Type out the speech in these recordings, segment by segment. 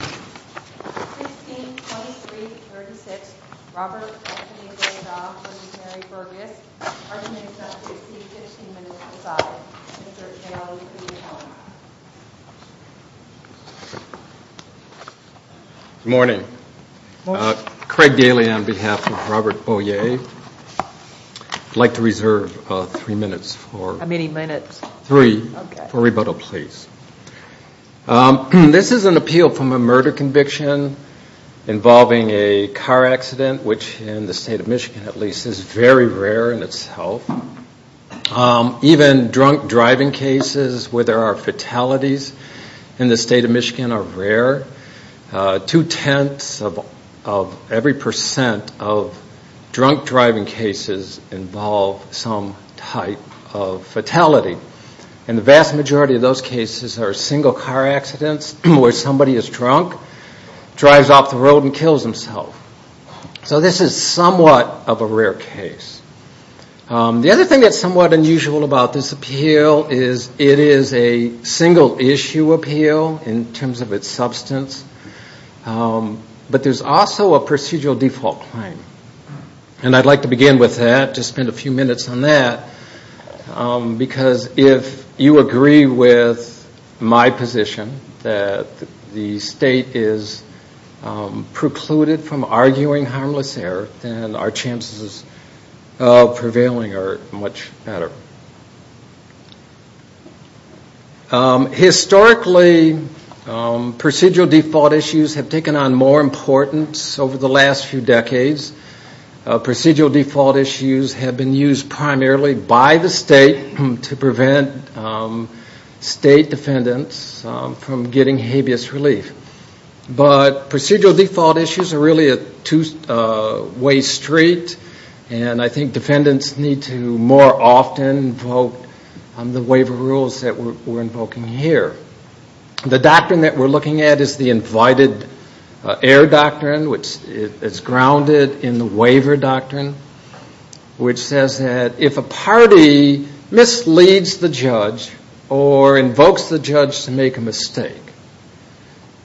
Good morning. Craig Daly on behalf of Robert Bojaj. I'd like to reserve three minutes for rebuttal, please. This is an appeal from a murder conviction involving a car accident, which in the state of Michigan, at least, is very rare in itself. Even drunk driving cases where there are fatalities in the state of Michigan are rare. Two-tenths of every percent of drunk driving cases involve some type of fatality. And the vast majority of those cases are single car accidents where somebody is drunk, drives off the road and kills himself. So this is somewhat of a rare case. The other thing that's somewhat unusual about this appeal is it is a single-issue appeal in terms of its substance. But there's also a procedural default claim. And I'd like to begin with that, just spend a few minutes on that, because if you agree with my position that the state is precluded from arguing harmless error, then our chances of success are very, very slim. Our chances of prevailing are much better. Historically, procedural default issues have taken on more importance over the last few decades. Procedural default issues have been used primarily by the state to prevent state defendants from getting habeas relief. But procedural default issues are really a two-way street, and I think defendants need to more often invoke the waiver rules that we're invoking here. The doctrine that we're looking at is the invited error doctrine, which is grounded in the waiver doctrine, which says that if a party misleads the judge or invokes the judge to make a mistake,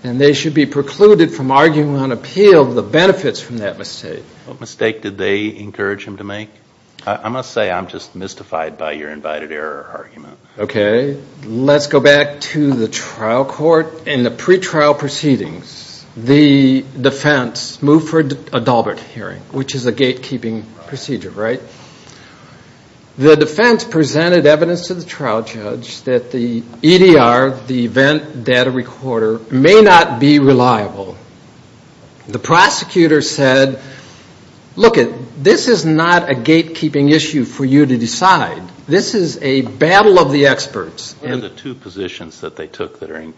then they should be precluded from arguing on appeal the benefits from that mistake. What mistake did they encourage him to make? I must say I'm just mystified by your invited error argument. Okay. Let's go back to the trial court and the pretrial proceedings. The defense moved for a Dalbert hearing, which is a gatekeeping procedure, right? The defense presented evidence to the trial judge that the EDR, the event data recorder, may not be reliable. The prosecutor said, look, this is not a gatekeeping issue for you to decide. This is a battle of the experts. What are the two positions that they took that are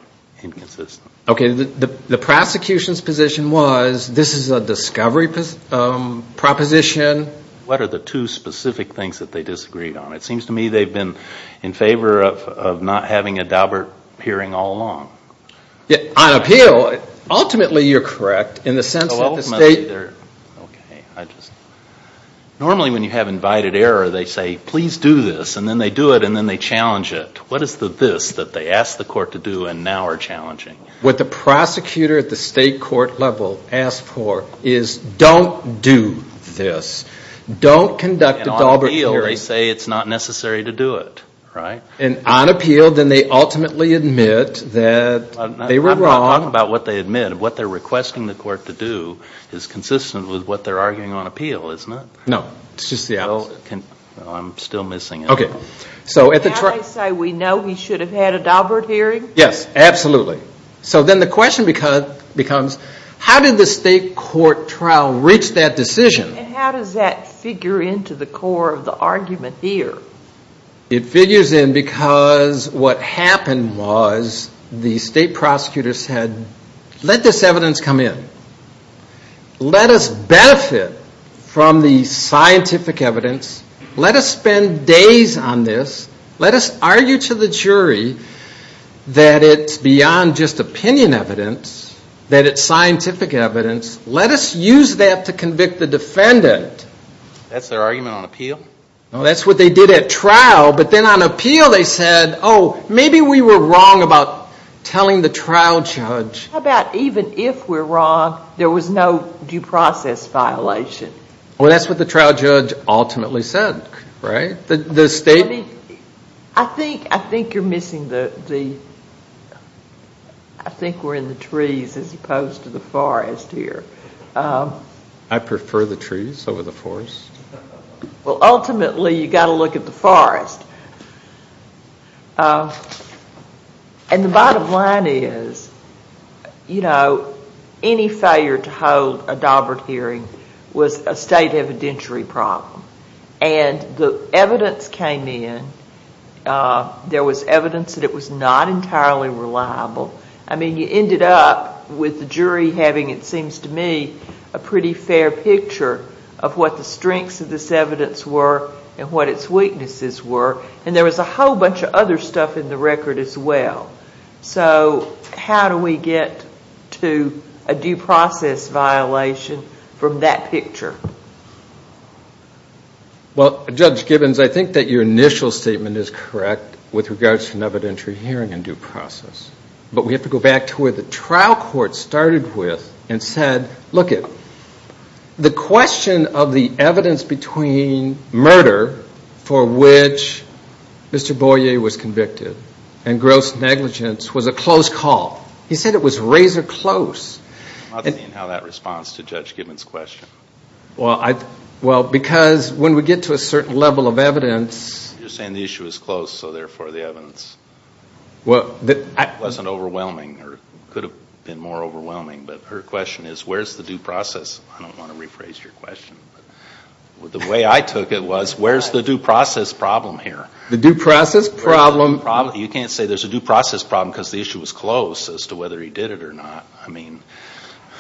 inconsistent? Okay. The prosecution's position was this is a discovery proposition. What are the two specific things that they disagreed on? It seems to me they've been in favor of not having a Dalbert hearing all along. On appeal, ultimately you're correct in the sense that the state... Okay. I just... Normally when you have invited error, they say, please do this, and then they do it, and then they challenge it. What is the this that they asked the court to do and now are challenging? What the prosecutor at the state court level asked for is don't do this. Don't conduct a Dalbert hearing. And on appeal, they say it's not necessary to do it, right? And on appeal, then they ultimately admit that they were wrong. I'm not talking about what they admit. What they're requesting the court to do is consistent with what they're arguing on appeal, isn't it? No. It's just the opposite. I'm still missing it. Okay. So at the trial... Can I say we know we should have had a Dalbert hearing? Yes. Absolutely. So then the question becomes, how did the state court trial reach that decision? And how does that figure into the core of the argument here? It figures in because what happened was the state prosecutors said, let this evidence come in. Let us benefit from the scientific evidence. Let us spend days on this. Let us argue to the jury that it's beyond just opinion evidence, that it's scientific evidence. Let us use that to convict the defendant. That's their argument on appeal? No. That's what they did at trial. But then on appeal, they said, oh, maybe we were wrong about telling the trial judge. How about even if we're wrong, there was no due process violation? Well, that's what the trial judge ultimately said, right? I think you're missing the... I think we're in the trees as opposed to the forest here. I prefer the trees over the forest. Well, ultimately, you've got to look at the forest. And the bottom line is, you know, any failure to hold a Daubert hearing was a state evidentiary problem. And the evidence came in. There was evidence that it was not entirely reliable. I mean, you ended up with the jury having, it seems to me, a pretty fair picture of what the strengths of this evidence were and what its weaknesses were. And there was a whole bunch of other stuff in the record as well. So how do we get to a due process violation from that picture? Well, Judge Gibbons, I think that your initial statement is correct with regards to an evidentiary hearing and due process. But we have to go back to where the trial court started with and said, look, the question of the evidence between murder for which Mr. Boyer was convicted and gross negligence was a close call. He said it was razor close. I'm not seeing how that responds to Judge Gibbons' question. Well, because when we get to a certain level of evidence... You're saying the issue is close, so therefore the evidence wasn't overwhelming or could have been more overwhelming. But her question is, where's the due process? I don't want to rephrase your question. The way I took it was, where's the due process problem here? The due process problem... You can't say there's a due process problem because the issue was close as to whether he did it or not.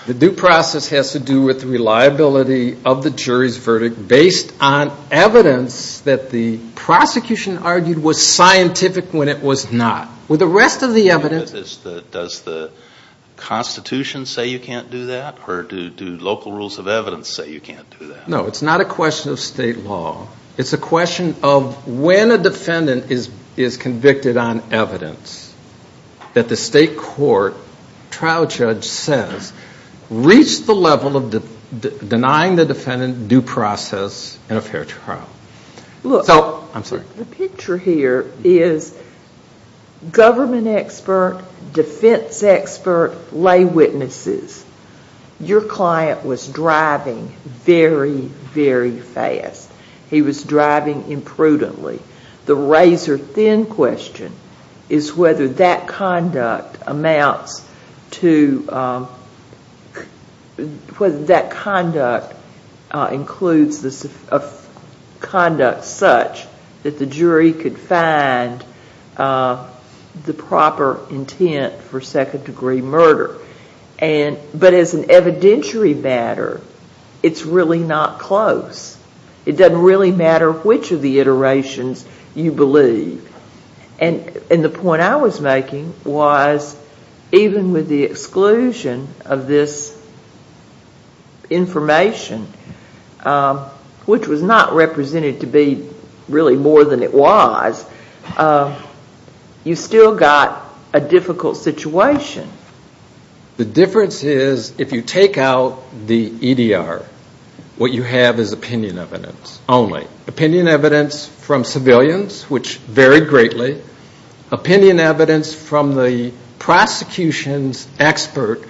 The due process has to do with reliability of the jury's verdict based on evidence that the prosecution argued was scientific when it was not. With the rest of the evidence... Does the Constitution say you can't do that? Or do local rules of evidence say you can't do that? No, it's not a question of state law. It's a question of when a defendant is convicted on evidence that the state court trial judge says reached the level of denying the defendant due process in a fair trial. The picture here is government expert, defense expert, lay witnesses. Your client was driving very, very fast. He was driving imprudently. The razor-thin question is whether that conduct includes conduct such that the jury could find the proper intent for second-degree murder. But as an evidentiary matter, it's really not close. It doesn't really matter which of the iterations you believe. And the point I was making was even with the exclusion of this information, which was not represented to be really more than it was, you still got a difficult situation. The difference is if you take out the EDR, what you have is opinion evidence only. Opinion evidence from civilians, which varied greatly. Opinion evidence from the prosecution's expert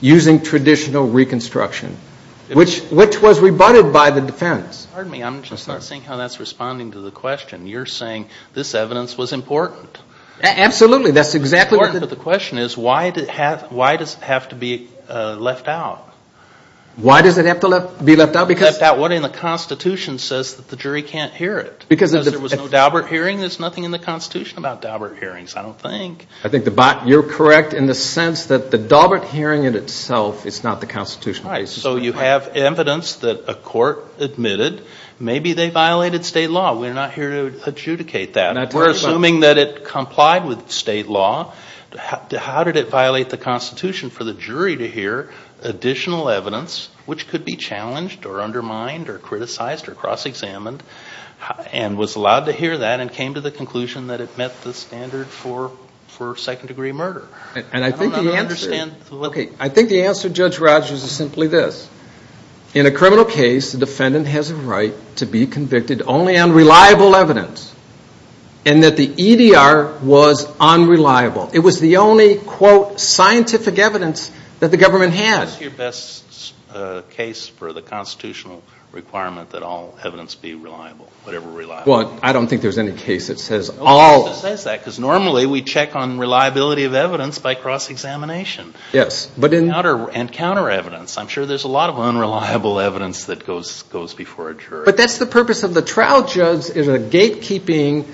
using traditional reconstruction, which was rebutted by the defense. Pardon me, I'm just not seeing how that's responding to the question. You're saying this evidence was important. Absolutely, that's exactly what... The point of the question is why does it have to be left out? Why does it have to be left out? Because what's in the Constitution says that the jury can't hear it. Because there was no Daubert hearing? There's nothing in the Constitution about Daubert hearings, I don't think. I think you're correct in the sense that the Daubert hearing in itself is not the Constitution. Right, so you have evidence that a court admitted maybe they violated state law. We're not here to adjudicate that. We're assuming that it complied with state law. How did it violate the Constitution for the jury to hear additional evidence, which could be challenged or undermined or criticized or cross-examined, and was allowed to hear that and came to the conclusion that it met the standard for second-degree murder? I don't understand... I think the answer, Judge Rogers, is simply this. In a criminal case, the defendant has a right to be convicted only on reliable evidence. And that the EDR was unreliable. It was the only, quote, scientific evidence that the government had. What's your best case for the Constitutional requirement that all evidence be reliable, whatever reliability? Well, I don't think there's any case that says all... No case that says that, because normally we check on reliability of evidence by cross-examination. Yes, but in... And counter-evidence. I'm sure there's a lot of unreliable evidence that goes before a jury. But that's the purpose of the trial, Judge, is a gate-keeping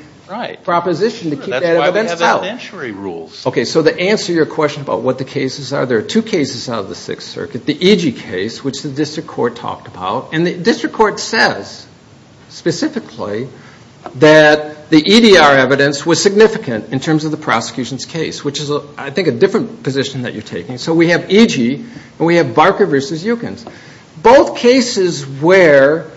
proposition to keep that evidence out. Right. That's why we have inventory rules. Okay, so to answer your question about what the cases are, there are two cases out of the Sixth Circuit. The EG case, which the district court talked about. And the district court says, specifically, that the EDR evidence was significant in terms of the prosecution's case, which is, I think, a different position that you're taking. So we have EG, and we have Barker v. Eukins. Both cases where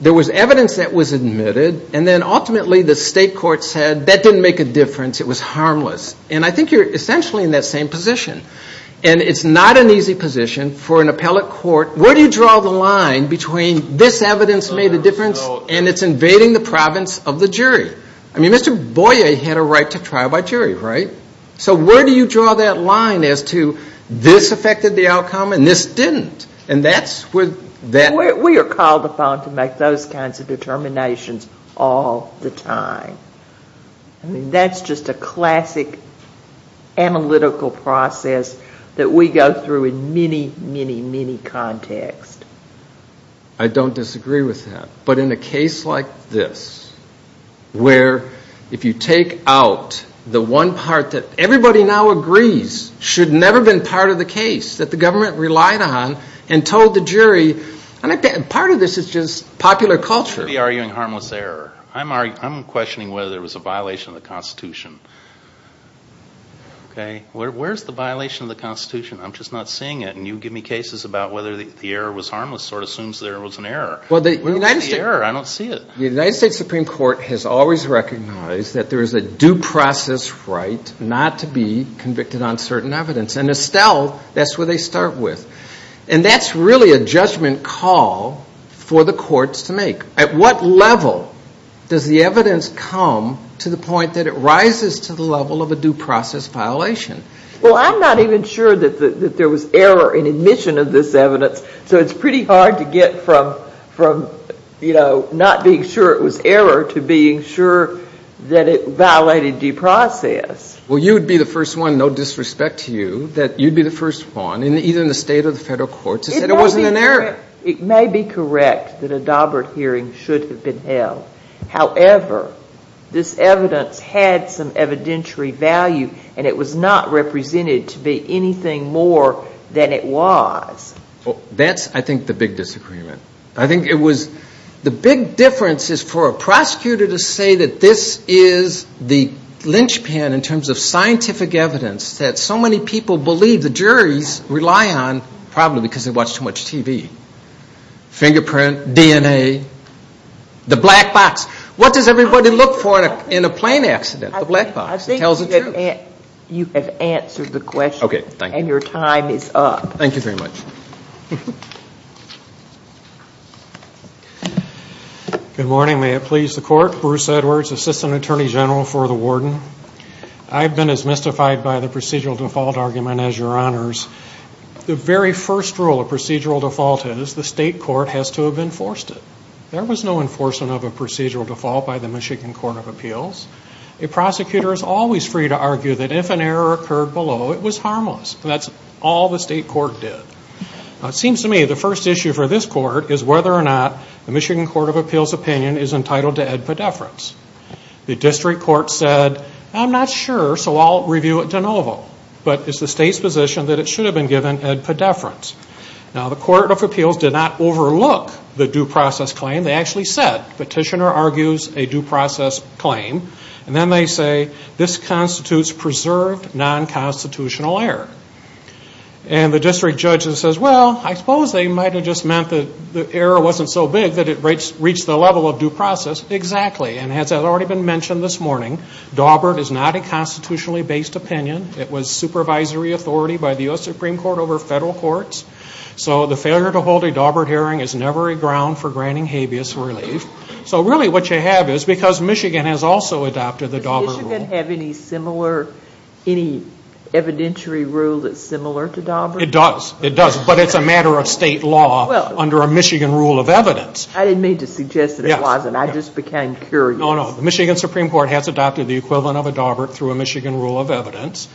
there was evidence that was admitted, and then ultimately the state court said, that didn't make a difference, it was harmless. And I think you're essentially in that same position. And it's not an easy position for an appellate court. Where do you draw the line between this evidence made a difference, and it's invading the province of the jury? I mean, Mr. Boyer had a right to trial by jury, right? So where do you draw that line as to, this affected the outcome and this didn't? And that's where that... We are called upon to make those kinds of determinations all the time. I mean, that's just a classic analytical process that we go through in many, many, many contexts. I don't disagree with that. But in a case like this, where if you take out the one part that everybody now agrees should never have been part of the case, that the government relied on and told the jury, part of this is just popular culture. You're arguing harmless error. I'm questioning whether there was a violation of the Constitution. Okay? Where's the violation of the Constitution? I'm just not seeing it, and you give me cases about whether the error was harmless, sort of assumes there was an error. Where's the error? I don't see it. The United States Supreme Court has always recognized that there is a due process right not to be convicted on certain evidence. And Estelle, that's where they start with. And that's really a judgment call for the courts to make. At what level does the evidence come to the point that it rises to the level of a due process violation? Well, I'm not even sure that there was error in admission of this evidence. So it's pretty hard to get from, you know, not being sure it was error to being sure that it violated due process. Well, you would be the first one, no disrespect to you, that you'd be the first one, either in the state or the federal courts, to say there wasn't an error. It may be correct that a Daubert hearing should have been held. However, this evidence had some evidentiary value, and it was not represented to be anything more than it was. That's, I think, the big disagreement. I think it was the big difference is for a prosecutor to say that this is the linchpin in terms of scientific evidence that so many people believe the juries rely on probably because they watch too much TV. Fingerprint, DNA, the black box. What does everybody look for in a plane accident? The black box. It tells the truth. I think you have answered the question. Okay, thank you. And your time is up. Thank you very much. Good morning. May it please the court. Bruce Edwards, Assistant Attorney General for the Warden. I've been as mystified by the procedural default argument as your honors. The very first rule of procedural default is the state court has to have enforced it. There was no enforcement of a procedural default by the Michigan Court of Appeals. A prosecutor is always free to argue that if an error occurred below, it was harmless. That's all the state court did. It seems to me the first issue for this court is whether or not the Michigan Court of Appeals opinion is entitled to ed pediferance. The district court said, I'm not sure, so I'll review it de novo. But it's the state's position that it should have been given ed pediferance. Now the Court of Appeals did not overlook the due process claim. They actually said, petitioner argues a due process claim. And then they say, this constitutes preserved non-constitutional error. And the district judge says, well, I suppose they might have just meant that the error wasn't so big that it reached the level of due process. Exactly. And as has already been mentioned this morning, Dawbert is not a constitutionally based opinion. It was supervisory authority by the U.S. Supreme Court over federal courts. So the failure to hold a Dawbert hearing is never a ground for granting habeas relief. So really what you have is because Michigan has also adopted the Dawbert rule. Does Michigan have any similar, any evidentiary rule that's similar to Dawbert? It does. It does. But it's a matter of state law under a Michigan rule of evidence. I didn't mean to suggest that it wasn't. I just became curious. No, no. The Michigan Supreme Court has adopted the equivalent of a Dawbert through a Michigan rule of evidence.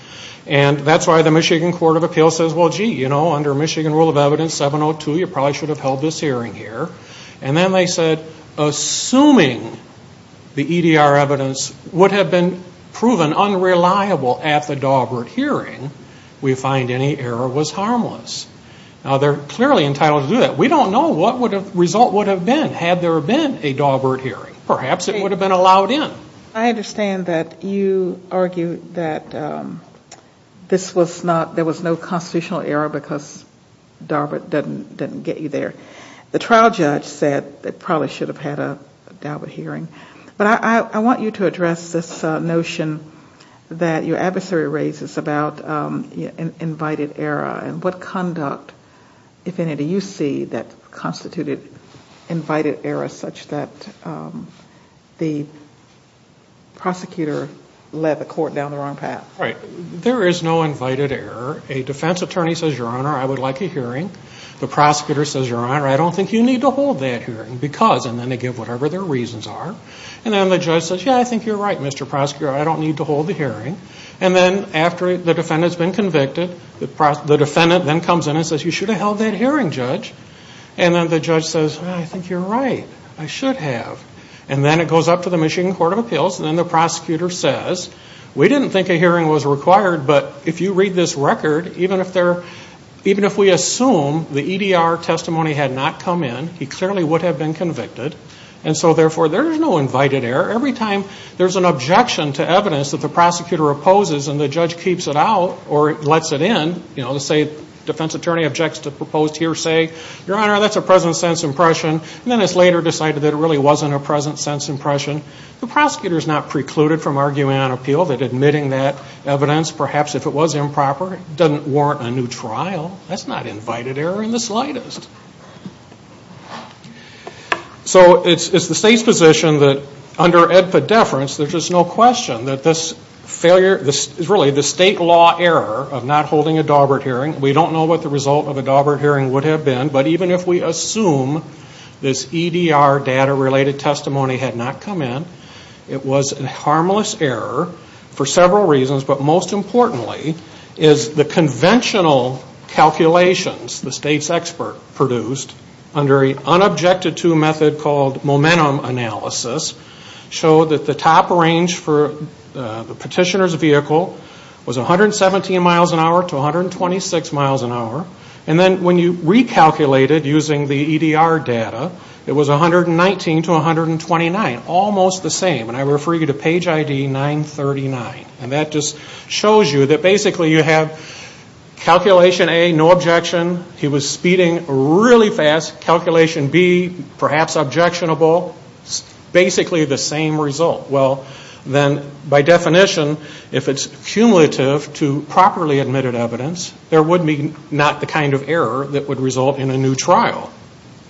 And that's why the Michigan Court of Appeals says, well, gee, you know, under Michigan rule of evidence 702, you probably should have held this hearing here. And then they said, assuming the EDR evidence would have been proven unreliable at the Dawbert hearing, we find any error was harmless. Now, they're clearly entitled to do that. We don't know what the result would have been had there been a Dawbert hearing. Perhaps it would have been allowed in. I understand that you argue that this was not, there was no constitutional error because Dawbert didn't get you there. The trial judge said they probably should have had a Dawbert hearing. But I want you to address this notion that your adversary raises about invited error and what conduct, if any, do you see that constituted invited error such that the prosecutor led the court down the wrong path? Right. There is no invited error. A defense attorney says, your honor, I would like a hearing. The prosecutor says, your honor, I don't think you need to hold that hearing because, and then they give whatever their reasons are. And then the judge says, yeah, I think you're right, Mr. Prosecutor. I don't need to hold the hearing. And then after the defendant's been convicted, the defendant then comes in and says, you should have held that hearing, judge. And then the judge says, I think you're right. I should have. And then it goes up to the Michigan Court of Appeals and then the prosecutor says, we didn't think a hearing was required, but if you read this record, even if we assume the EDR testimony had not come in, he clearly would have been convicted. And so, therefore, there is no invited error. Every time there's an objection to evidence that the prosecutor opposes and the judge keeps it out or lets it in, you know, let's say defense attorney objects to proposed hearsay, your honor, that's a present sense impression. And then it's later decided that it really wasn't a present sense impression. The prosecutor's not precluded from arguing on appeal that admitting that evidence, perhaps if it was improper, doesn't warrant a new trial. That's not invited error in the slightest. So it's the state's position that under EDPA deference, there's just no question that this failure, this is really the state law error of not holding a Daubert hearing. We don't know what the result of a Daubert hearing would have been, but even if we assume this EDR data-related testimony had not come in, it was a harmless error for several reasons. But most importantly is the conventional calculations the state's expert produced under an unobjected to method called momentum analysis showed that the top range for the petitioner's vehicle was 117 miles an hour to 126 miles an hour. And then when you recalculated using the EDR data, it was 119 to 129, almost the same. And I refer you to page ID 939. And that just shows you that basically you have calculation A, no objection. He was speeding really fast. Calculation B, perhaps objectionable. Basically the same result. Well, then by definition, if it's cumulative to properly admitted evidence, there would be not the kind of error that would result in a new trial.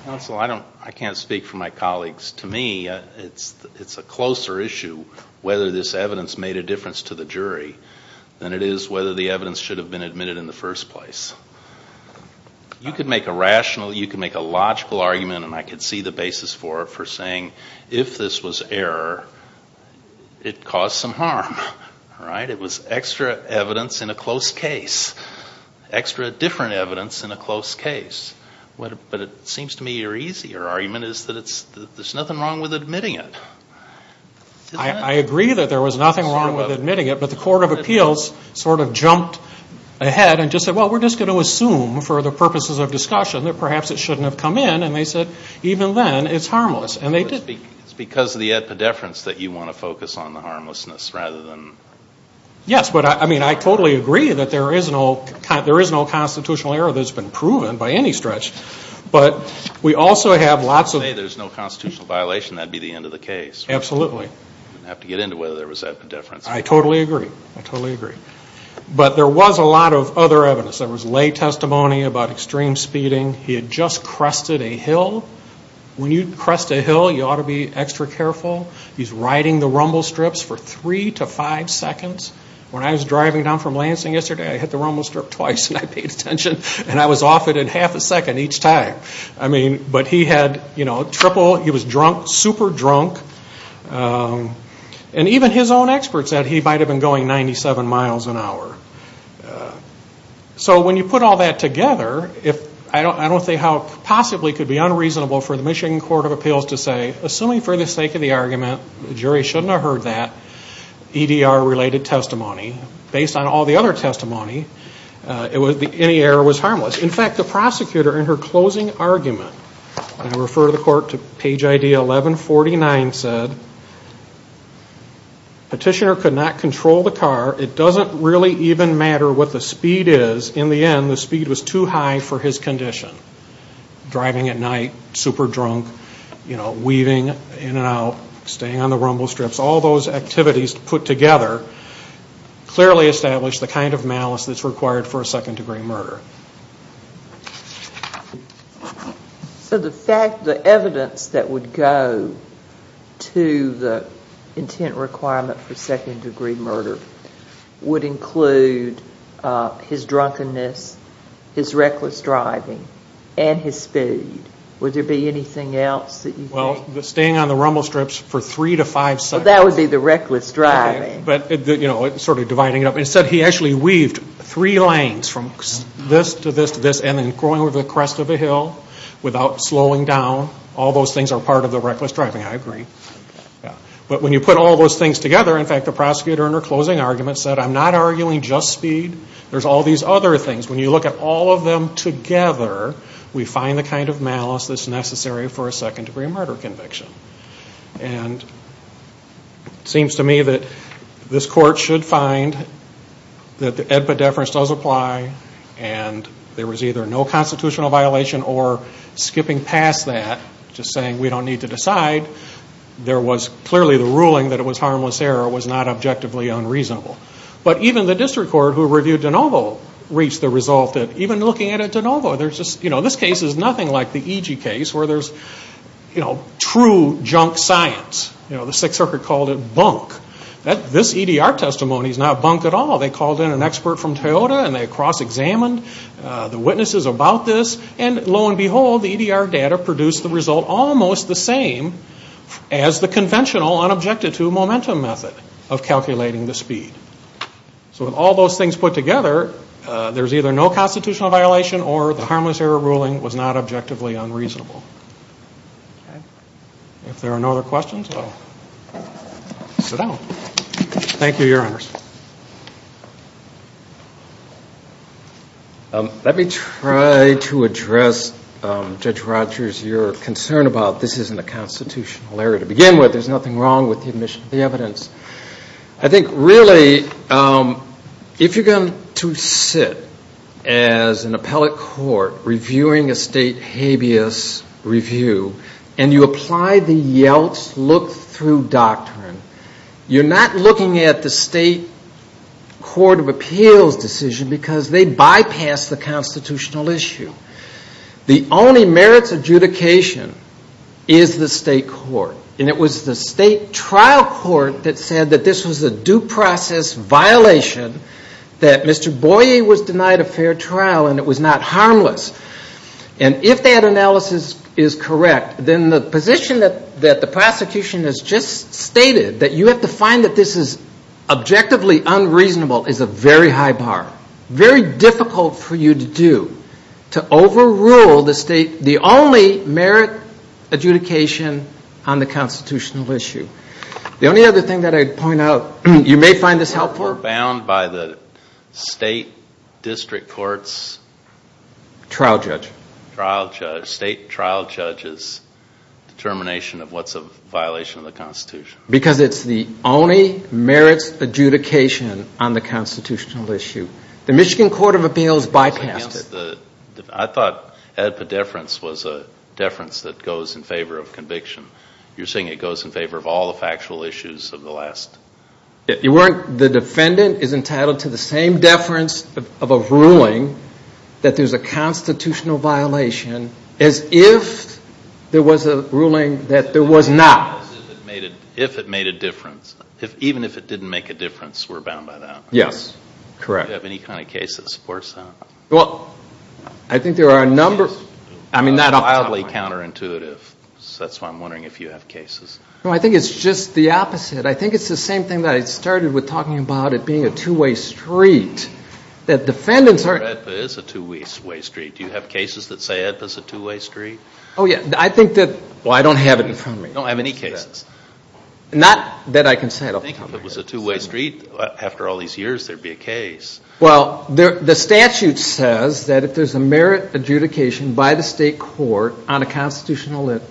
Counsel, I can't speak for my colleagues. To me, it's a closer issue whether this evidence made a difference to the jury than it is whether the evidence should have been admitted in the first place. You could make a rational, you could make a logical argument, and I could see the basis for it, for saying if this was error, it caused some harm. It was extra evidence in a close case. Extra different evidence in a close case. But it seems to me your easier argument is that there's nothing wrong with admitting it. I agree that there was nothing wrong with admitting it. But the Court of Appeals sort of jumped ahead and just said, well, we're just going to assume for the purposes of discussion that perhaps it shouldn't have come in. And they said, even then, it's harmless. It's because of the epidefrance that you want to focus on the harmlessness rather than... Yes, but I totally agree that there is no constitutional error that's been proven by any stretch. But we also have lots of... If you say there's no constitutional violation, that would be the end of the case. Absolutely. I'd have to get into whether there was epidefrance. I totally agree. I totally agree. But there was a lot of other evidence. There was lay testimony about extreme speeding. He had just crested a hill. When you crest a hill, you ought to be extra careful. He's riding the rumble strips for three to five seconds. When I was driving down from Lansing yesterday, I hit the rumble strip twice and I paid attention. And I was off it in half a second each time. But he had triple... He was drunk, super drunk. And even his own experts said he might have been going 97 miles an hour. So when you put all that together, I don't see how it possibly could be unreasonable for the Michigan Court of Appeals to say, assuming for the sake of the argument, the jury shouldn't have heard that EDR-related testimony, based on all the other testimony, any error was harmless. In fact, the prosecutor in her closing argument, and I refer to the court to page ID 1149, said, Petitioner could not control the car. It doesn't really even matter what the speed is. In the end, the speed was too high for his condition. Driving at night, super drunk, you know, weaving in and out, staying on the rumble strips, all those activities put together clearly establish the kind of malice that's required for a second degree murder. So the fact, the evidence that would go to the intent requirement for second degree murder would include his drunkenness, his reckless driving, and his speed. Would there be anything else that you think? Well, staying on the rumble strips for three to five seconds. Well, that would be the reckless driving. But, you know, sort of dividing it up. Instead, he actually weaved three lanes from this to this to this, and then going over the crest of a hill without slowing down. All those things are part of the reckless driving. I agree. But when you put all those things together, in fact, the prosecutor in her closing argument said, I'm not arguing just speed, there's all these other things. When you look at all of them together, we find the kind of malice that's necessary for a second degree murder conviction. And it seems to me that this court should find that the EDPA deference does apply, and there was either no constitutional violation or skipping past that, just saying we don't need to decide. There was clearly the ruling that it was harmless error, it was not objectively unreasonable. But even the district court who reviewed DeNovo reached the result that, even looking at it at DeNovo, this case is nothing like the EG case where there's true junk science. The Sixth Circuit called it bunk. This EDR testimony is not bunk at all. They called in an expert from Toyota, and they cross-examined the witnesses about this, and lo and behold, the EDR data produced the result almost the same as the conventional, unobjected-to momentum method of calculating the speed. So with all those things put together, there's either no constitutional violation or the harmless error ruling was not objectively unreasonable. If there are no other questions, I'll sit down. Thank you, Your Honors. Let me try to address, Judge Rogers, your concern about this isn't a constitutional error to begin with. There's nothing wrong with the admission of the evidence. I think, really, if you're going to sit as an appellate court reviewing a state habeas review, and you apply the Yeltsin look-through doctrine, you're not looking at the state court of appeals decision because they bypass the constitutional issue. The only merits adjudication is the state court. And it was the state trial court that said that this was a due process violation, that Mr. Boyer was denied a fair trial, and it was not harmless. And if that analysis is correct, then the position that the prosecution has just stated that you have to find that this is objectively unreasonable is a very high bar, very difficult for you to do, to overrule the state, the only merit adjudication on the constitutional issue. The only other thing that I'd point out, you may find this helpful. We're bound by the state district court's... Trial judge. State trial judge's determination of what's a violation of the Constitution. It's the only merits adjudication on the constitutional issue. The Michigan court of appeals bypassed it. I thought that the deference was a deference that goes in favor of conviction. You're saying it goes in favor of all the factual issues of the last... The defendant is entitled to the same deference of a ruling that there's a constitutional violation as if there was a ruling that there was not. As if it made a difference. Even if it didn't make a difference, we're bound by that. Yes, correct. Do you have any kind of case that supports that? Well, I think there are a number... That's wildly counterintuitive. That's why I'm wondering if you have cases. No, I think it's just the opposite. I think it's the same thing that I started with talking about it being a two-way street. That defendants are... EDPA is a two-way street. Do you have cases that say EDPA's a two-way street? Oh, yeah. I think that... Well, I don't have it in front of me. You don't have any cases. Not that I can say it off the top of my head. I think if it was a two-way street, after all these years, there'd be a case. Well, the statute says that if there's a merit adjudication by the state court on a constitutional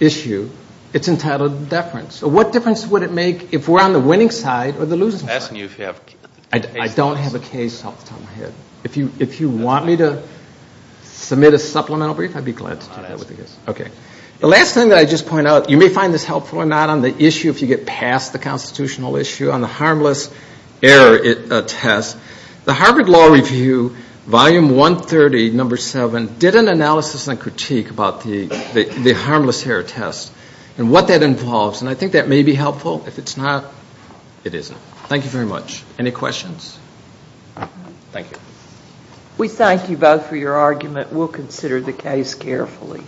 issue, it's entitled to deference. So what difference would it make if we're on the winning side or the losing side? I'm asking you if you have cases. I don't have a case off the top of my head. If you want me to submit a supplemental brief, I'd be glad to do that with the case. The last thing that I'd just point out, you may find this helpful or not on the issue if you get past the constitutional issue, on the harmless error test. The Harvard Law Review, Volume 130, Number 7, did an analysis and critique about the harmless error test and what that involves. And I think that may be helpful. If it's not, it isn't. Thank you very much. Any questions? Thank you. We thank you both for your argument. Please take your seats carefully.